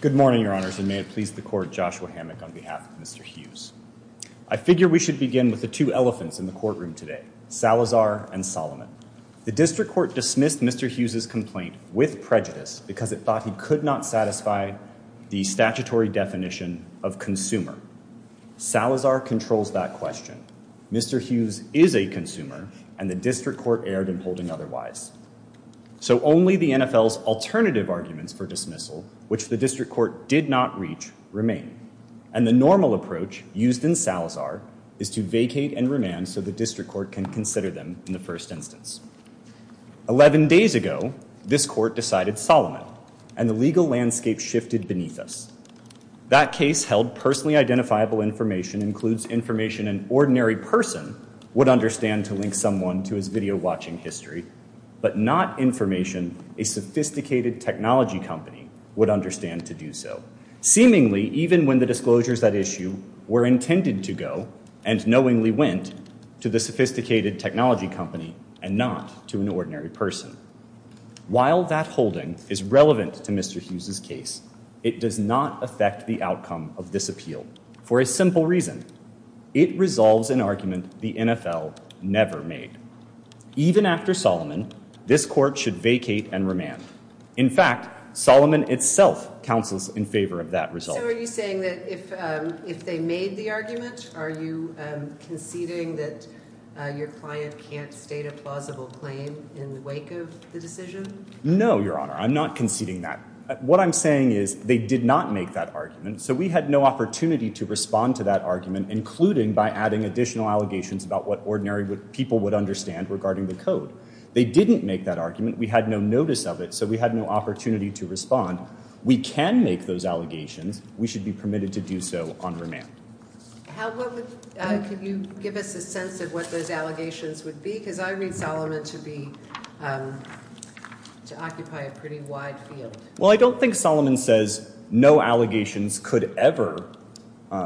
Good morning, Your Honors, and may it please the Court, Joshua Hammack on behalf of Mr. I figure we should begin with the two elephants in the courtroom today, Salazar and Solomon. The District Court dismissed Mr. Hughes's complaint with prejudice because it thought he could not satisfy the statutory definition of consumer. Salazar controls that question. Mr. Hughes is a consumer, and the District Court erred in holding otherwise. So only the NFL's alternative arguments for dismissal, which the District Court did not reach, remain. And the normal approach used in Salazar is to vacate and remand so the District Court can consider them in the first instance. Eleven days ago, this Court decided Solomon, and the legal landscape shifted beneath us. That case held personally identifiable information includes information an ordinary person would understand to link someone to his video-watching history, but not information a sophisticated technology company would understand to do so, seemingly even when the disclosures at issue were intended to go and knowingly went to the sophisticated technology company and not to an ordinary person. While that holding is relevant to Mr. Hughes's case, it does not affect the outcome of this appeal for a simple reason. It resolves an argument the NFL never made. Even after Solomon, this Court should vacate and remand. In fact, Solomon itself counsels in favor of that result. So are you saying that if they made the argument, are you conceding that your client can't state a plausible claim in the wake of the decision? No, Your Honor. I'm not conceding that. What I'm saying is they did not make that argument, so we had no opportunity to respond to that argument, including by adding additional allegations about what ordinary people would understand regarding the code. They didn't make that argument. We had no notice of it, so we had no opportunity to respond. We can make those allegations. We should be permitted to do so on remand. Can you give us a sense of what those allegations would be? Because I read Solomon to occupy a pretty wide field. Well, I don't think Solomon says no allegations could ever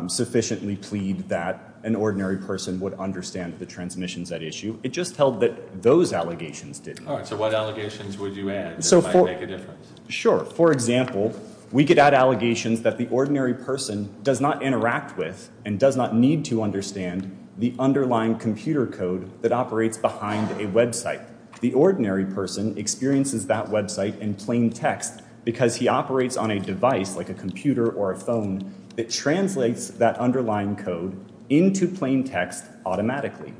sufficiently plead that an ordinary person would understand the transmissions at issue. It just held that those allegations didn't. All right. So what allegations would you add that might make a difference? Sure. For example, we could add allegations that the ordinary person does not interact with and does not need to understand the underlying computer code that operates behind a website. The ordinary person experiences that website in plain text because he operates on a device like a computer or a phone that translates that underlying code into plain text automatically.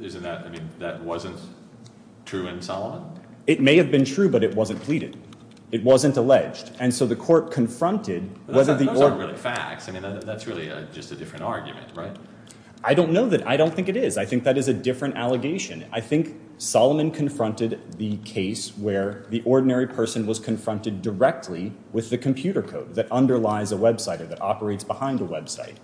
Isn't that – I mean, that wasn't true in Solomon? It may have been true, but it wasn't pleaded. It wasn't alleged. And so the court confronted whether the – Those aren't really facts. I mean, that's really just a different argument, right? I don't know that – I don't think it is. I think that is a different allegation. I think Solomon confronted the case where the ordinary person was confronted directly with the computer code that underlies a website or that operates behind a website.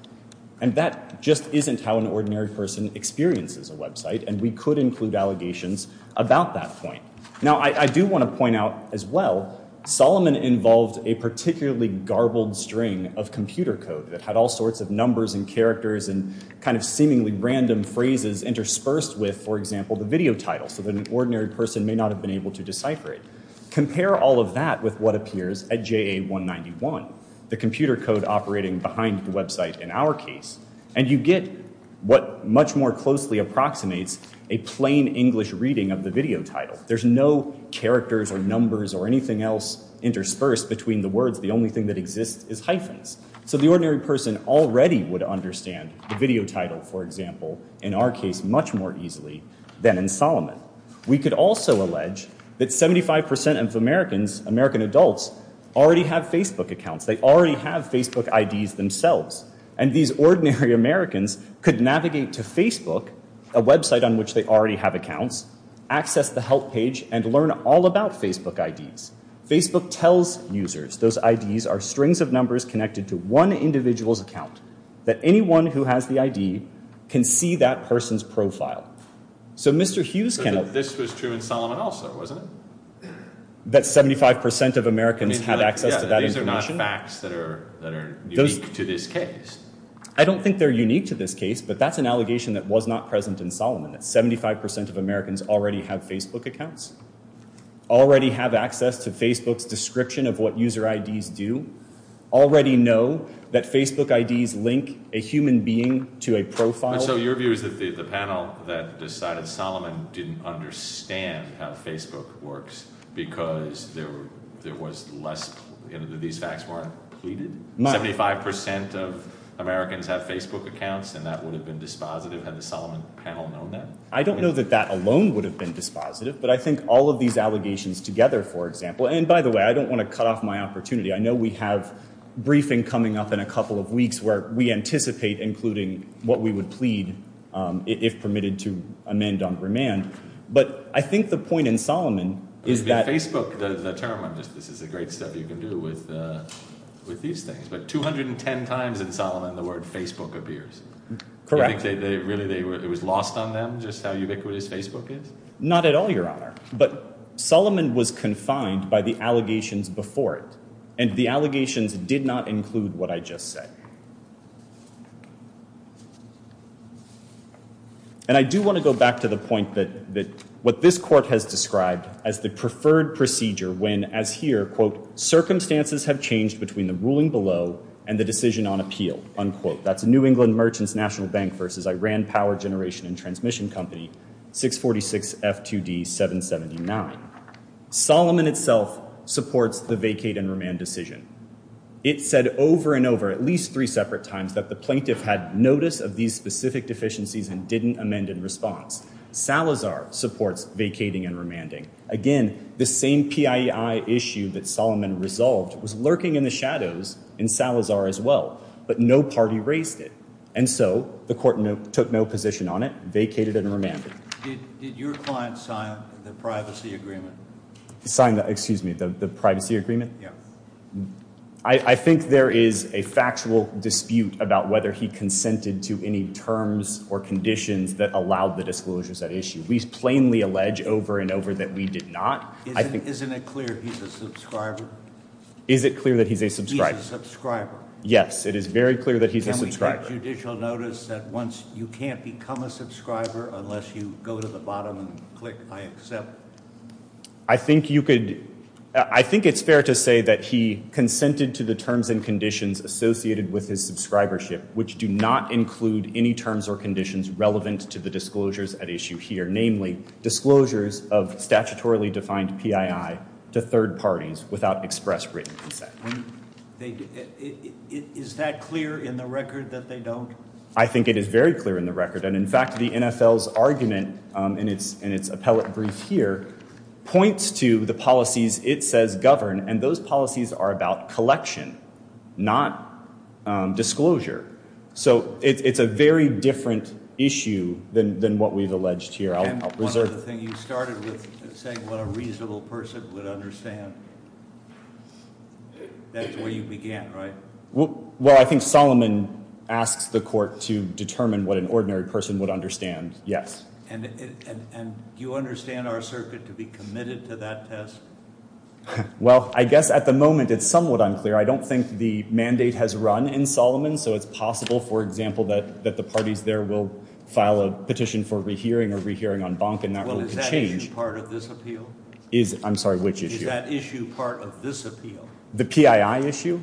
And that just isn't how an ordinary person experiences a website, and we could include allegations about that point. Now, I do want to point out as well Solomon involved a particularly garbled string of computer code that had all sorts of numbers and characters and kind of seemingly random phrases interspersed with, for example, the video title so that an ordinary person may not have been able to decipher it. Compare all of that with what appears at JA191, the computer code operating behind the website in our case, and you get what much more closely approximates a plain English reading of the video title. There's no characters or numbers or anything else interspersed between the words. The only thing that exists is hyphens. So the ordinary person already would understand the video title, for example, in our case much more easily than in Solomon. We could also allege that 75% of Americans, American adults, already have Facebook accounts. They already have Facebook IDs themselves, and these ordinary Americans could navigate to Facebook, a website on which they already have accounts, access the help page, and learn all about Facebook IDs. Facebook tells users those IDs are strings of numbers connected to one individual's account, that anyone who has the ID can see that person's profile. This was true in Solomon also, wasn't it? That 75% of Americans have access to that information. These are not facts that are unique to this case. I don't think they're unique to this case, but that's an allegation that was not present in Solomon, that 75% of Americans already have Facebook accounts, already have access to Facebook's description of what user IDs do, already know that Facebook IDs link a human being to a profile. So your view is that the panel that decided Solomon didn't understand how Facebook works because there was less – these facts weren't pleaded? 75% of Americans have Facebook accounts, and that would have been dispositive? Had the Solomon panel known that? I don't know that that alone would have been dispositive, but I think all of these allegations together, for example – and by the way, I don't want to cut off my opportunity. I know we have a briefing coming up in a couple of weeks where we anticipate including what we would plead if permitted to amend on remand. But I think the point in Solomon is that – Facebook, the term – this is the great stuff you can do with these things – but 210 times in Solomon the word Facebook appears. Correct. Do you think really it was lost on them just how ubiquitous Facebook is? Not at all, Your Honor. But Solomon was confined by the allegations before it, and the allegations did not include what I just said. And I do want to go back to the point that what this court has described as the preferred procedure when, as here, quote, circumstances have changed between the ruling below and the decision on appeal, unquote. That's New England Merchants National Bank versus Iran Power Generation and Transmission Company, 646 F2D 779. Solomon itself supports the vacate and remand decision. It said over and over, at least three separate times, that the plaintiff had notice of these specific deficiencies and didn't amend in response. Salazar supports vacating and remanding. Again, the same PIEI issue that Solomon resolved was lurking in the shadows in Salazar as well, but no party raised it. And so the court took no position on it, vacated and remanded. Did your client sign the privacy agreement? Sign the – excuse me, the privacy agreement? Yeah. I think there is a factual dispute about whether he consented to any terms or conditions that allowed the disclosures at issue. We plainly allege over and over that we did not. Isn't it clear he's a subscriber? Is it clear that he's a subscriber? Yes, it is very clear that he's a subscriber. Can we get judicial notice that once you can't become a subscriber unless you go to the bottom and click I accept? I think you could – I think it's fair to say that he consented to the terms and conditions associated with his subscribership, which do not include any terms or conditions relevant to the disclosures at issue here, namely disclosures of statutorily defined PIEI to third parties without express written consent. Is that clear in the record that they don't? I think it is very clear in the record. And, in fact, the NFL's argument in its appellate brief here points to the policies it says govern, and those policies are about collection, not disclosure. So it's a very different issue than what we've alleged here. And one other thing, you started with saying what a reasonable person would understand. That's where you began, right? Well, I think Solomon asks the court to determine what an ordinary person would understand, yes. And do you understand our circuit to be committed to that test? Well, I guess at the moment it's somewhat unclear. I don't think the mandate has run in Solomon, so it's possible, for example, that the parties there will file a petition for rehearing or rehearing en banc and that will change. Well, is that issue part of this appeal? I'm sorry, which issue? Is that issue part of this appeal? The PIEI issue?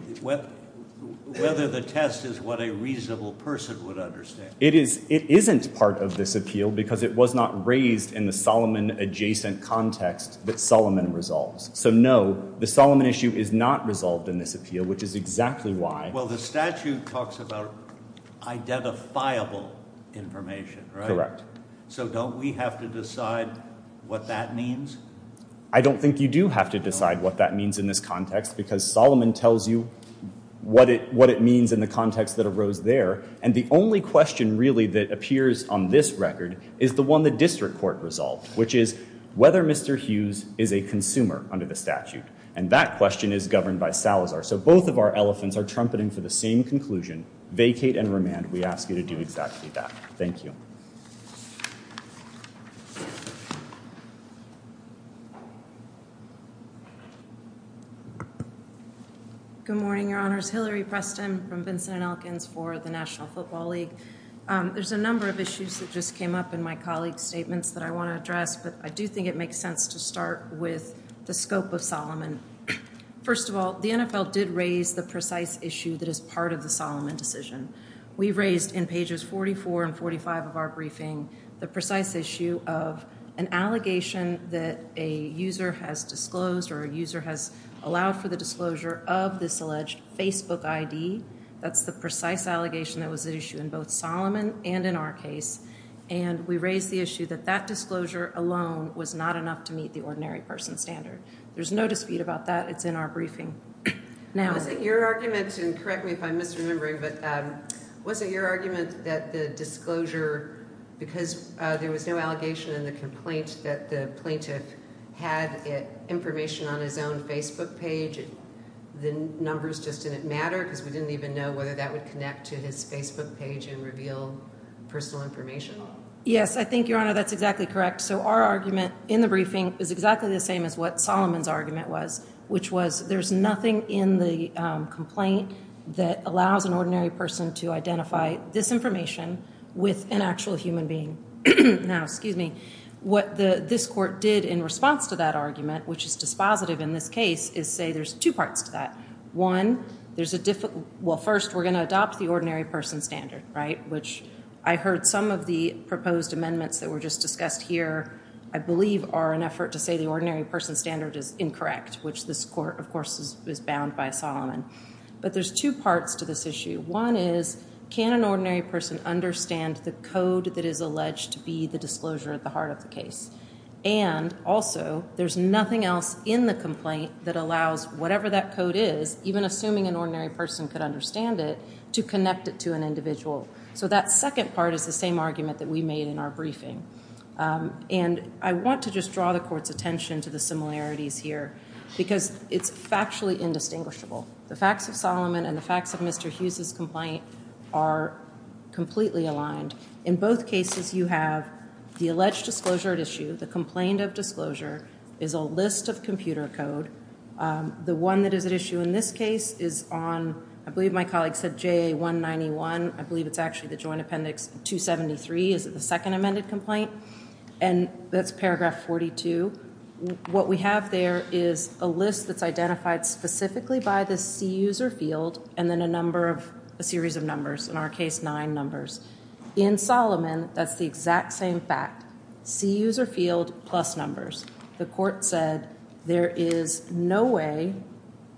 Whether the test is what a reasonable person would understand. It isn't part of this appeal because it was not raised in the Solomon-adjacent context that Solomon resolves. So, no, the Solomon issue is not resolved in this appeal, which is exactly why. Well, the statute talks about identifiable information, right? Correct. So don't we have to decide what that means? I don't think you do have to decide what that means in this context because Solomon tells you what it means in the context that arose there. And the only question really that appears on this record is the one the district court resolved, which is whether Mr. Hughes is a consumer under the statute. And that question is governed by Salazar. So both of our elephants are trumpeting for the same conclusion, vacate and remand. We ask you to do exactly that. Thank you. Good morning, Your Honors. Hillary Preston from Vincent and Elkins for the National Football League. There's a number of issues that just came up in my colleague's statements that I want to address, but I do think it makes sense to start with the scope of Solomon. First of all, the NFL did raise the precise issue that is part of the Solomon decision. We raised in pages 44 and 45 of our briefing the precise issue of an allegation that a user has disclosed or a user has allowed for the disclosure of this alleged Facebook ID. That's the precise allegation that was at issue in both Solomon and in our case. And we raised the issue that that disclosure alone was not enough to meet the ordinary person standard. There's no dispute about that. It's in our briefing. Was it your argument, and correct me if I'm misremembering, but was it your argument that the disclosure, because there was no allegation in the complaint, that the plaintiff had information on his own Facebook page, the numbers just didn't matter, because we didn't even know whether that would connect to his Facebook page and reveal personal information? Yes, I think, Your Honor, that's exactly correct. So our argument in the briefing is exactly the same as what Solomon's argument was, which was there's nothing in the complaint that allows an ordinary person to identify this information with an actual human being. Now, excuse me, what this court did in response to that argument, which is dispositive in this case, is say there's two parts to that. One, there's a difficult, well, first, we're going to adopt the ordinary person standard, right, which I heard some of the proposed amendments that were just discussed here, I believe, are an effort to say the ordinary person standard is incorrect, which this court, of course, is bound by Solomon. But there's two parts to this issue. One is, can an ordinary person understand the code that is alleged to be the disclosure at the heart of the case? And also, there's nothing else in the complaint that allows whatever that code is, even assuming an ordinary person could understand it, to connect it to an individual. So that second part is the same argument that we made in our briefing. And I want to just draw the court's attention to the similarities here because it's factually indistinguishable. The facts of Solomon and the facts of Mr. Hughes' complaint are completely aligned. In both cases, you have the alleged disclosure at issue, the complaint of disclosure is a list of computer code. The one that is at issue in this case is on, I believe my colleague said JA191, I believe it's actually the Joint Appendix 273, is it the second amended complaint? And that's paragraph 42. What we have there is a list that's identified specifically by the C user field and then a number of, a series of numbers, in our case, nine numbers. In Solomon, that's the exact same fact, C user field plus numbers. The court said there is no way,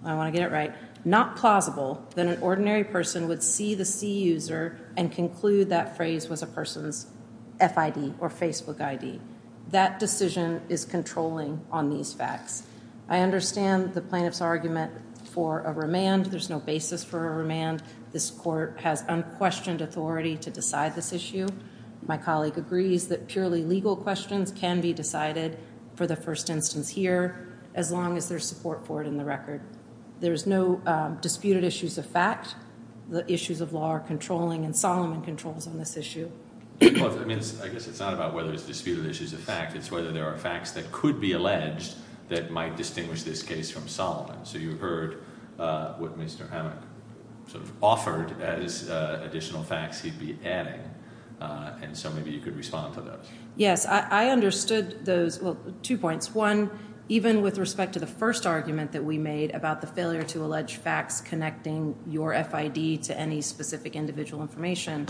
I want to get it right, not plausible that an ordinary person would see the C user and conclude that phrase was a person's FID or Facebook ID. That decision is controlling on these facts. I understand the plaintiff's argument for a remand. There's no basis for a remand. This court has unquestioned authority to decide this issue. My colleague agrees that purely legal questions can be decided for the first instance here as long as there's support for it in the record. There is no disputed issues of fact. The issues of law are controlling, and Solomon controls on this issue. I guess it's not about whether it's disputed issues of fact. It's whether there are facts that could be alleged that might distinguish this case from Solomon. So you heard what Mr. Hammack sort of offered as additional facts he'd be adding, and so maybe you could respond to those. Yes, I understood those, well, two points. One, even with respect to the first argument that we made about the failure to allege facts connecting your FID to any specific individual information,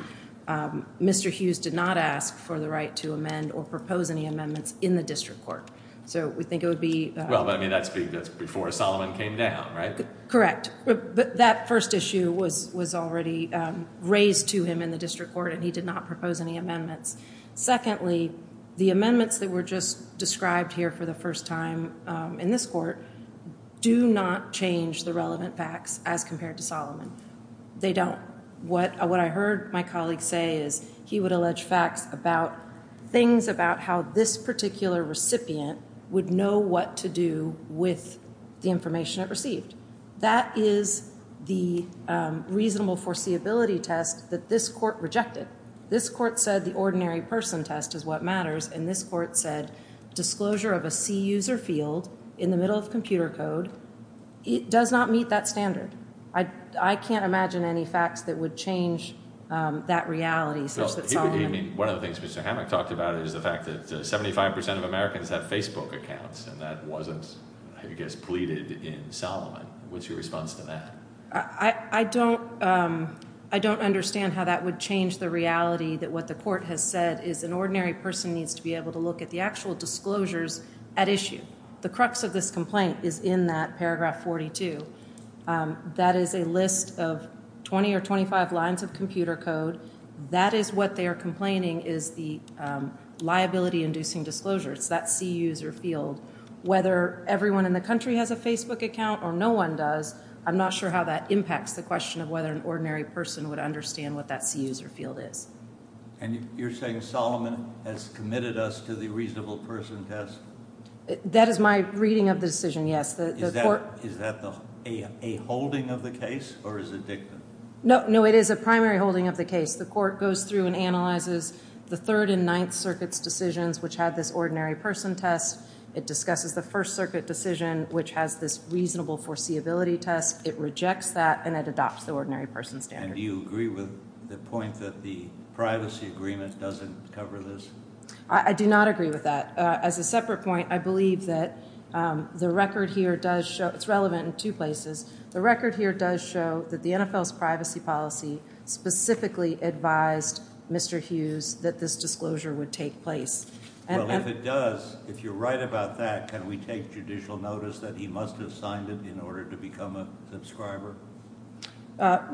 Mr. Hughes did not ask for the right to amend or propose any amendments in the district court. So we think it would be... Well, I mean, that's before Solomon came down, right? Correct. But that first issue was already raised to him in the district court, and he did not propose any amendments. Secondly, the amendments that were just described here for the first time in this court do not change the relevant facts as compared to Solomon. They don't. What I heard my colleague say is he would allege facts about things about how this particular recipient would know what to do with the information it received. That is the reasonable foreseeability test that this court rejected. This court said the ordinary person test is what matters, and this court said disclosure of a C user field in the middle of computer code does not meet that standard. I can't imagine any facts that would change that reality such that Solomon... Well, one of the things Mr. Hammack talked about is the fact that 75% of Americans have Facebook accounts, and that wasn't, I guess, pleaded in Solomon. What's your response to that? I don't understand how that would change the reality that what the court has said is an ordinary person needs to be able to look at the actual disclosures at issue. The crux of this complaint is in that paragraph 42. That is a list of 20 or 25 lines of computer code. That is what they are complaining is the liability-inducing disclosure. It's that C user field. Whether everyone in the country has a Facebook account or no one does, I'm not sure how that impacts the question of whether an ordinary person would understand what that C user field is. You're saying Solomon has committed us to the reasonable person test? That is my reading of the decision, yes. Is that a holding of the case or is it dictum? No, it is a primary holding of the case. The court goes through and analyzes the Third and Ninth Circuit's decisions, which had this ordinary person test. It discusses the First Circuit decision, which has this reasonable foreseeability test. It rejects that and it adopts the ordinary person standard. Do you agree with the point that the privacy agreement doesn't cover this? I do not agree with that. As a separate point, I believe that the record here does show it's relevant in two places. The record here does show that the NFL's privacy policy specifically advised Mr. Hughes that this disclosure would take place. Well, if it does, if you're right about that, can we take judicial notice that he must have signed it in order to become a subscriber? The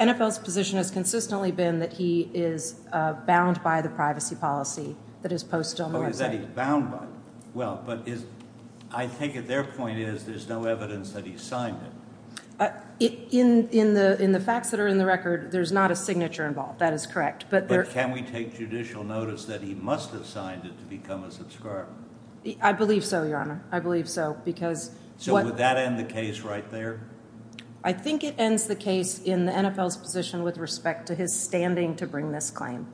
NFL's position has consistently been that he is bound by the privacy policy that is posted on the website. Oh, that he's bound by it. Well, but I think their point is there's no evidence that he signed it. In the facts that are in the record, there's not a signature involved. That is correct. But can we take judicial notice that he must have signed it to become a subscriber? I believe so, Your Honor. I believe so. So would that end the case right there? I think it ends the case in the NFL's position with respect to his standing to bring this claim.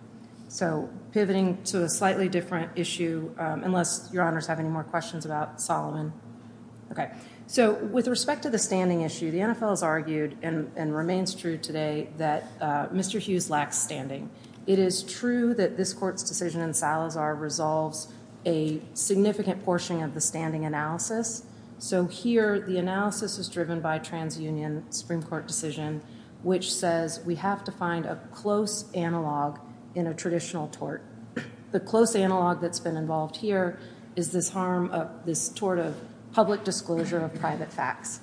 So pivoting to a slightly different issue, unless Your Honors have any more questions about Solomon. So with respect to the standing issue, the NFL has argued and remains true today that Mr. Hughes lacks standing. It is true that this court's decision in Salazar resolves a significant portion of the standing analysis. So here the analysis is driven by a TransUnion Supreme Court decision, which says we have to find a close analog in a traditional tort. The close analog that's been involved here is this harm of this tort of public disclosure of private facts.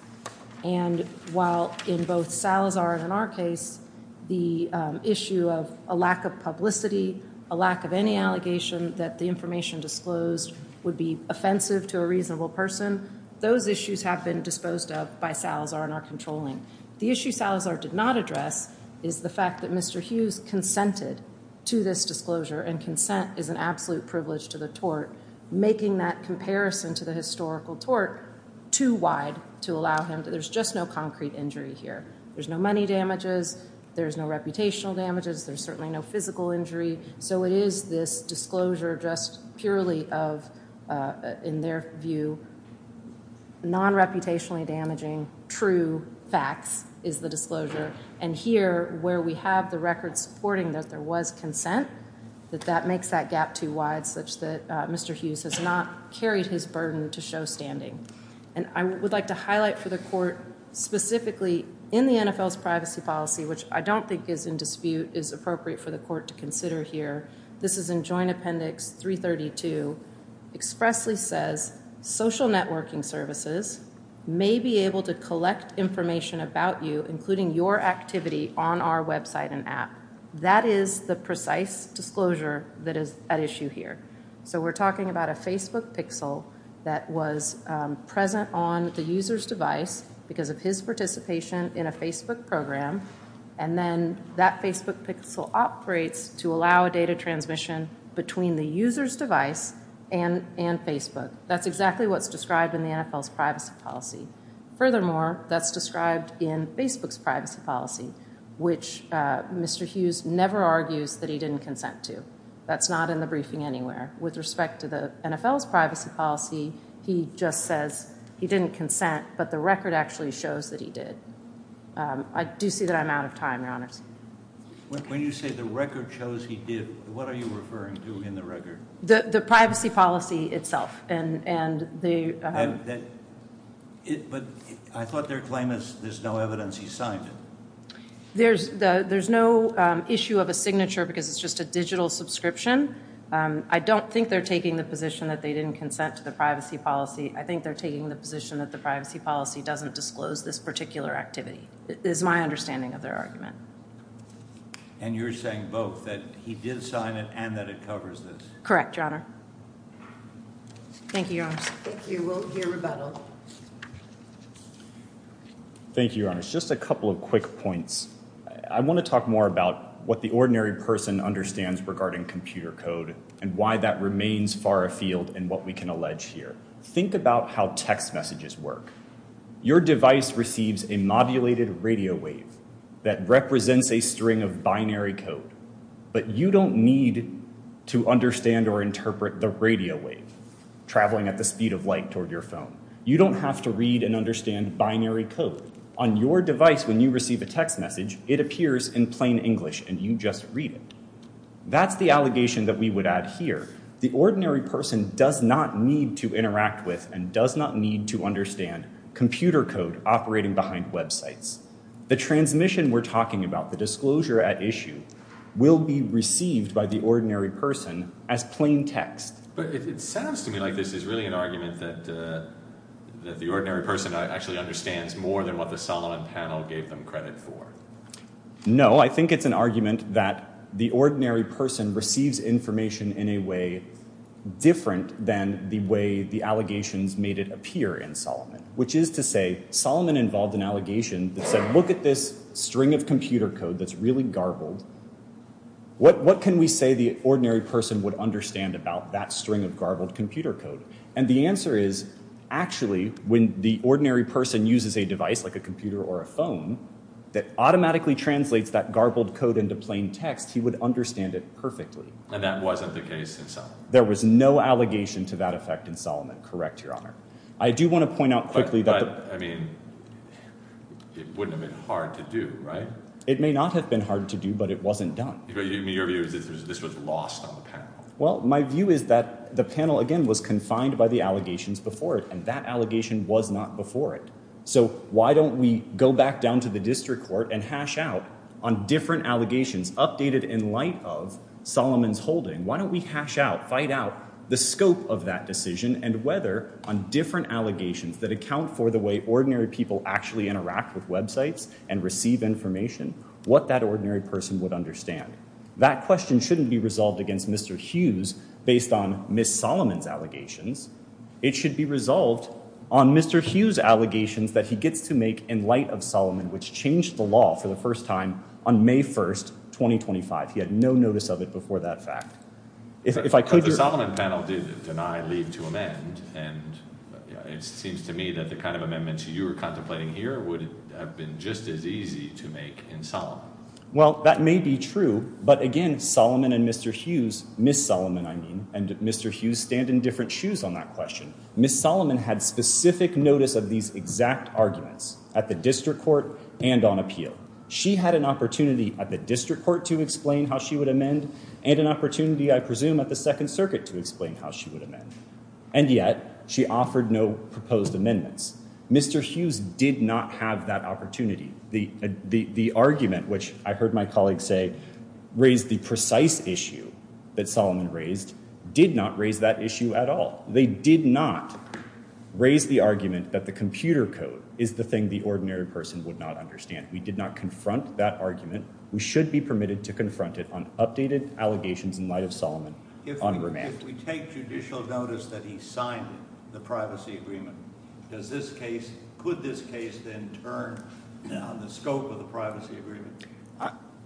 And while in both Salazar and in our case, the issue of a lack of publicity, a lack of any allegation that the information disclosed would be offensive to a reasonable person, those issues have been disposed of by Salazar and are controlling. The issue Salazar did not address is the fact that Mr. Hughes consented to this disclosure, and consent is an absolute privilege to the tort, making that comparison to the historical tort too wide to allow him. There's just no concrete injury here. There's no money damages. There's no reputational damages. There's certainly no physical injury. So it is this disclosure just purely of, in their view, non-reputationally damaging true facts is the disclosure. And here, where we have the record supporting that there was consent, that that makes that gap too wide, such that Mr. Hughes has not carried his burden to show standing. And I would like to highlight for the court, specifically in the NFL's privacy policy, which I don't think is in dispute, is appropriate for the court to consider here. This is in Joint Appendix 332. Expressly says, social networking services may be able to collect information about you, including your activity, on our website and app. That is the precise disclosure that is at issue here. So we're talking about a Facebook pixel that was present on the user's device because of his participation in a Facebook program. And then that Facebook pixel operates to allow a data transmission between the user's device and Facebook. That's exactly what's described in the NFL's privacy policy. Furthermore, that's described in Facebook's privacy policy, which Mr. Hughes never argues that he didn't consent to. That's not in the briefing anywhere. With respect to the NFL's privacy policy, he just says he didn't consent, but the record actually shows that he did. I do see that I'm out of time, Your Honors. When you say the record shows he did, what are you referring to in the record? The privacy policy itself. But I thought their claim is there's no evidence he signed it. There's no issue of a signature because it's just a digital subscription. I don't think they're taking the position that they didn't consent to the privacy policy. I think they're taking the position that the privacy policy doesn't disclose this particular activity is my understanding of their argument. And you're saying both, that he did sign it and that it covers this? Correct, Your Honor. Thank you, Your Honors. Thank you. We'll hear rebuttal. Thank you, Your Honors. Just a couple of quick points. I want to talk more about what the ordinary person understands regarding computer code and why that remains far afield and what we can allege here. Think about how text messages work. Your device receives a modulated radio wave that represents a string of binary code. But you don't need to understand or interpret the radio wave traveling at the speed of light toward your phone. You don't have to read and understand binary code. On your device, when you receive a text message, it appears in plain English and you just read it. That's the allegation that we would add here. The ordinary person does not need to interact with and does not need to understand computer code operating behind websites. The transmission we're talking about, the disclosure at issue, will be received by the ordinary person as plain text. But it sounds to me like this is really an argument that the ordinary person actually understands more than what the Solomon panel gave them credit for. No, I think it's an argument that the ordinary person receives information in a way different than the way the allegations made it appear in Solomon. Which is to say, Solomon involved an allegation that said, look at this string of computer code that's really garbled. What can we say the ordinary person would understand about that string of garbled computer code? And the answer is, actually, when the ordinary person uses a device like a computer or a phone that automatically translates that garbled code into plain text, he would understand it perfectly. And that wasn't the case in Solomon? There was no allegation to that effect in Solomon, correct, Your Honor. I do want to point out quickly that the- But, I mean, it wouldn't have been hard to do, right? It may not have been hard to do, but it wasn't done. But your view is that this was lost on the panel? Well, my view is that the panel, again, was confined by the allegations before it. And that allegation was not before it. So why don't we go back down to the district court and hash out on different allegations, updated in light of Solomon's holding. Why don't we hash out, find out the scope of that decision and whether on different allegations that account for the way ordinary people actually interact with websites and receive information, what that ordinary person would understand. That question shouldn't be resolved against Mr. Hughes based on Ms. Solomon's allegations. It should be resolved on Mr. Hughes' allegations that he gets to make in light of Solomon, which changed the law for the first time on May 1st, 2025. He had no notice of it before that fact. If I could- But the Solomon panel did deny leave to amend. And it seems to me that the kind of amendments you were contemplating here would have been just as easy to make in Solomon. Well, that may be true. But, again, Solomon and Mr. Hughes, Ms. Solomon, I mean, and Mr. Hughes stand in different shoes on that question. Ms. Solomon had specific notice of these exact arguments at the district court and on appeal. She had an opportunity at the district court to explain how she would amend and an opportunity, I presume, at the Second Circuit to explain how she would amend. And yet she offered no proposed amendments. Mr. Hughes did not have that opportunity. The argument, which I heard my colleague say raised the precise issue that Solomon raised, did not raise that issue at all. They did not raise the argument that the computer code is the thing the ordinary person would not understand. We did not confront that argument. We should be permitted to confront it on updated allegations in light of Solomon on remand. If we take judicial notice that he signed the privacy agreement, does this case, could this case then turn on the scope of the privacy agreement?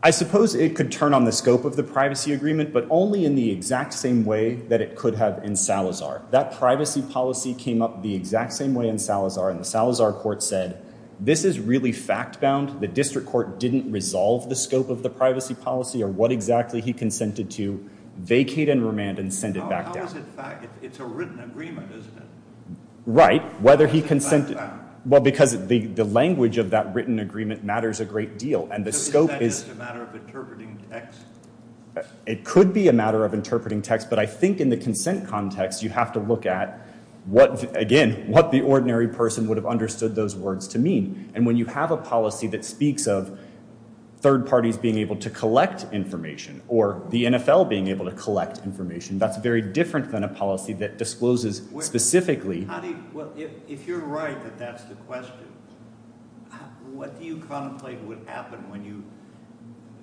I suppose it could turn on the scope of the privacy agreement, but only in the exact same way that it could have in Salazar. That privacy policy came up the exact same way in Salazar, and the Salazar court said, this is really fact-bound. The district court didn't resolve the scope of the privacy policy or what exactly he consented to, vacate and remand and send it back down. How is it fact? It's a written agreement, isn't it? Right. Whether he consented— It's fact-bound. Well, because the language of that written agreement matters a great deal, and the scope is— So is that just a matter of interpreting text? It could be a matter of interpreting text, but I think in the consent context, you have to look at what, again, what the ordinary person would have understood those words to mean. And when you have a policy that speaks of third parties being able to collect information or the NFL being able to collect information, that's very different than a policy that discloses specifically— Well, if you're right that that's the question, what do you contemplate would happen when you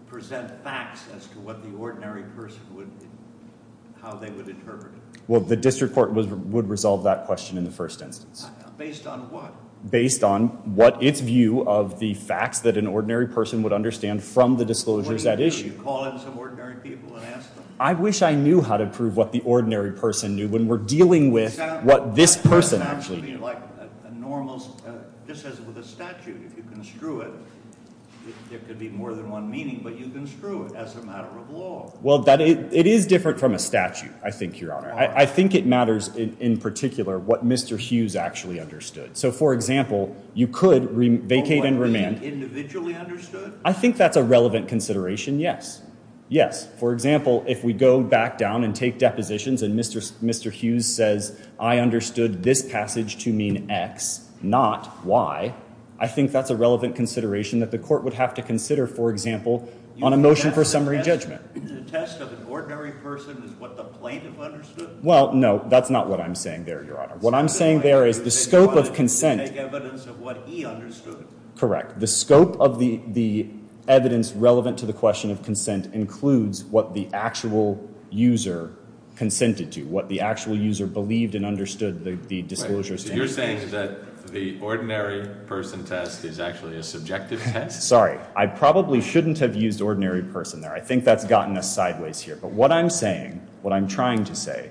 present facts as to what the ordinary person would—how they would interpret it? Well, the district court would resolve that question in the first instance. Based on what? Based on what its view of the facts that an ordinary person would understand from the disclosures at issue. Would you call in some ordinary people and ask them? I wish I knew how to prove what the ordinary person knew when we're dealing with what this person actually knew. It sounds to me like a normal—just as with a statute, if you construe it, there could be more than one meaning, but you construe it as a matter of law. Well, it is different from a statute, I think, Your Honor. I think it matters in particular what Mr. Hughes actually understood. So, for example, you could vacate and remand— Oh, but would that be individually understood? I think that's a relevant consideration, yes. Yes. For example, if we go back down and take depositions and Mr. Hughes says, I understood this passage to mean X, not Y, I think that's a relevant consideration that the court would have to consider, for example, on a motion for summary judgment. The test of an ordinary person is what the plaintiff understood? Well, no, that's not what I'm saying there, Your Honor. What I'm saying there is the scope of consent— He wanted to take evidence of what he understood. Correct. The scope of the evidence relevant to the question of consent includes what the actual user consented to, what the actual user believed and understood the disclosures to mean. So you're saying that the ordinary person test is actually a subjective test? Sorry, I probably shouldn't have used ordinary person there. I think that's gotten us sideways here. But what I'm saying, what I'm trying to say,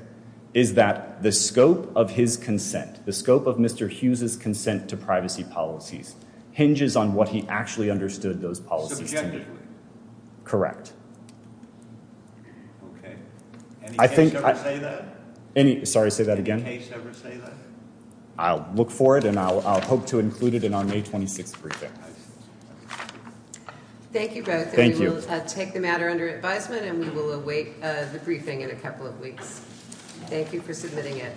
is that the scope of his consent, the scope of Mr. Hughes' consent to privacy policies hinges on what he actually understood those policies to mean. Subjectively? Correct. Okay. Any case ever say that? Sorry, say that again? Any case ever say that? I'll look for it and I'll hope to include it in our May 26th briefing. Thank you both. Thank you. And we will take the matter under advisement and we will await the briefing in a couple of weeks. Thank you for submitting it.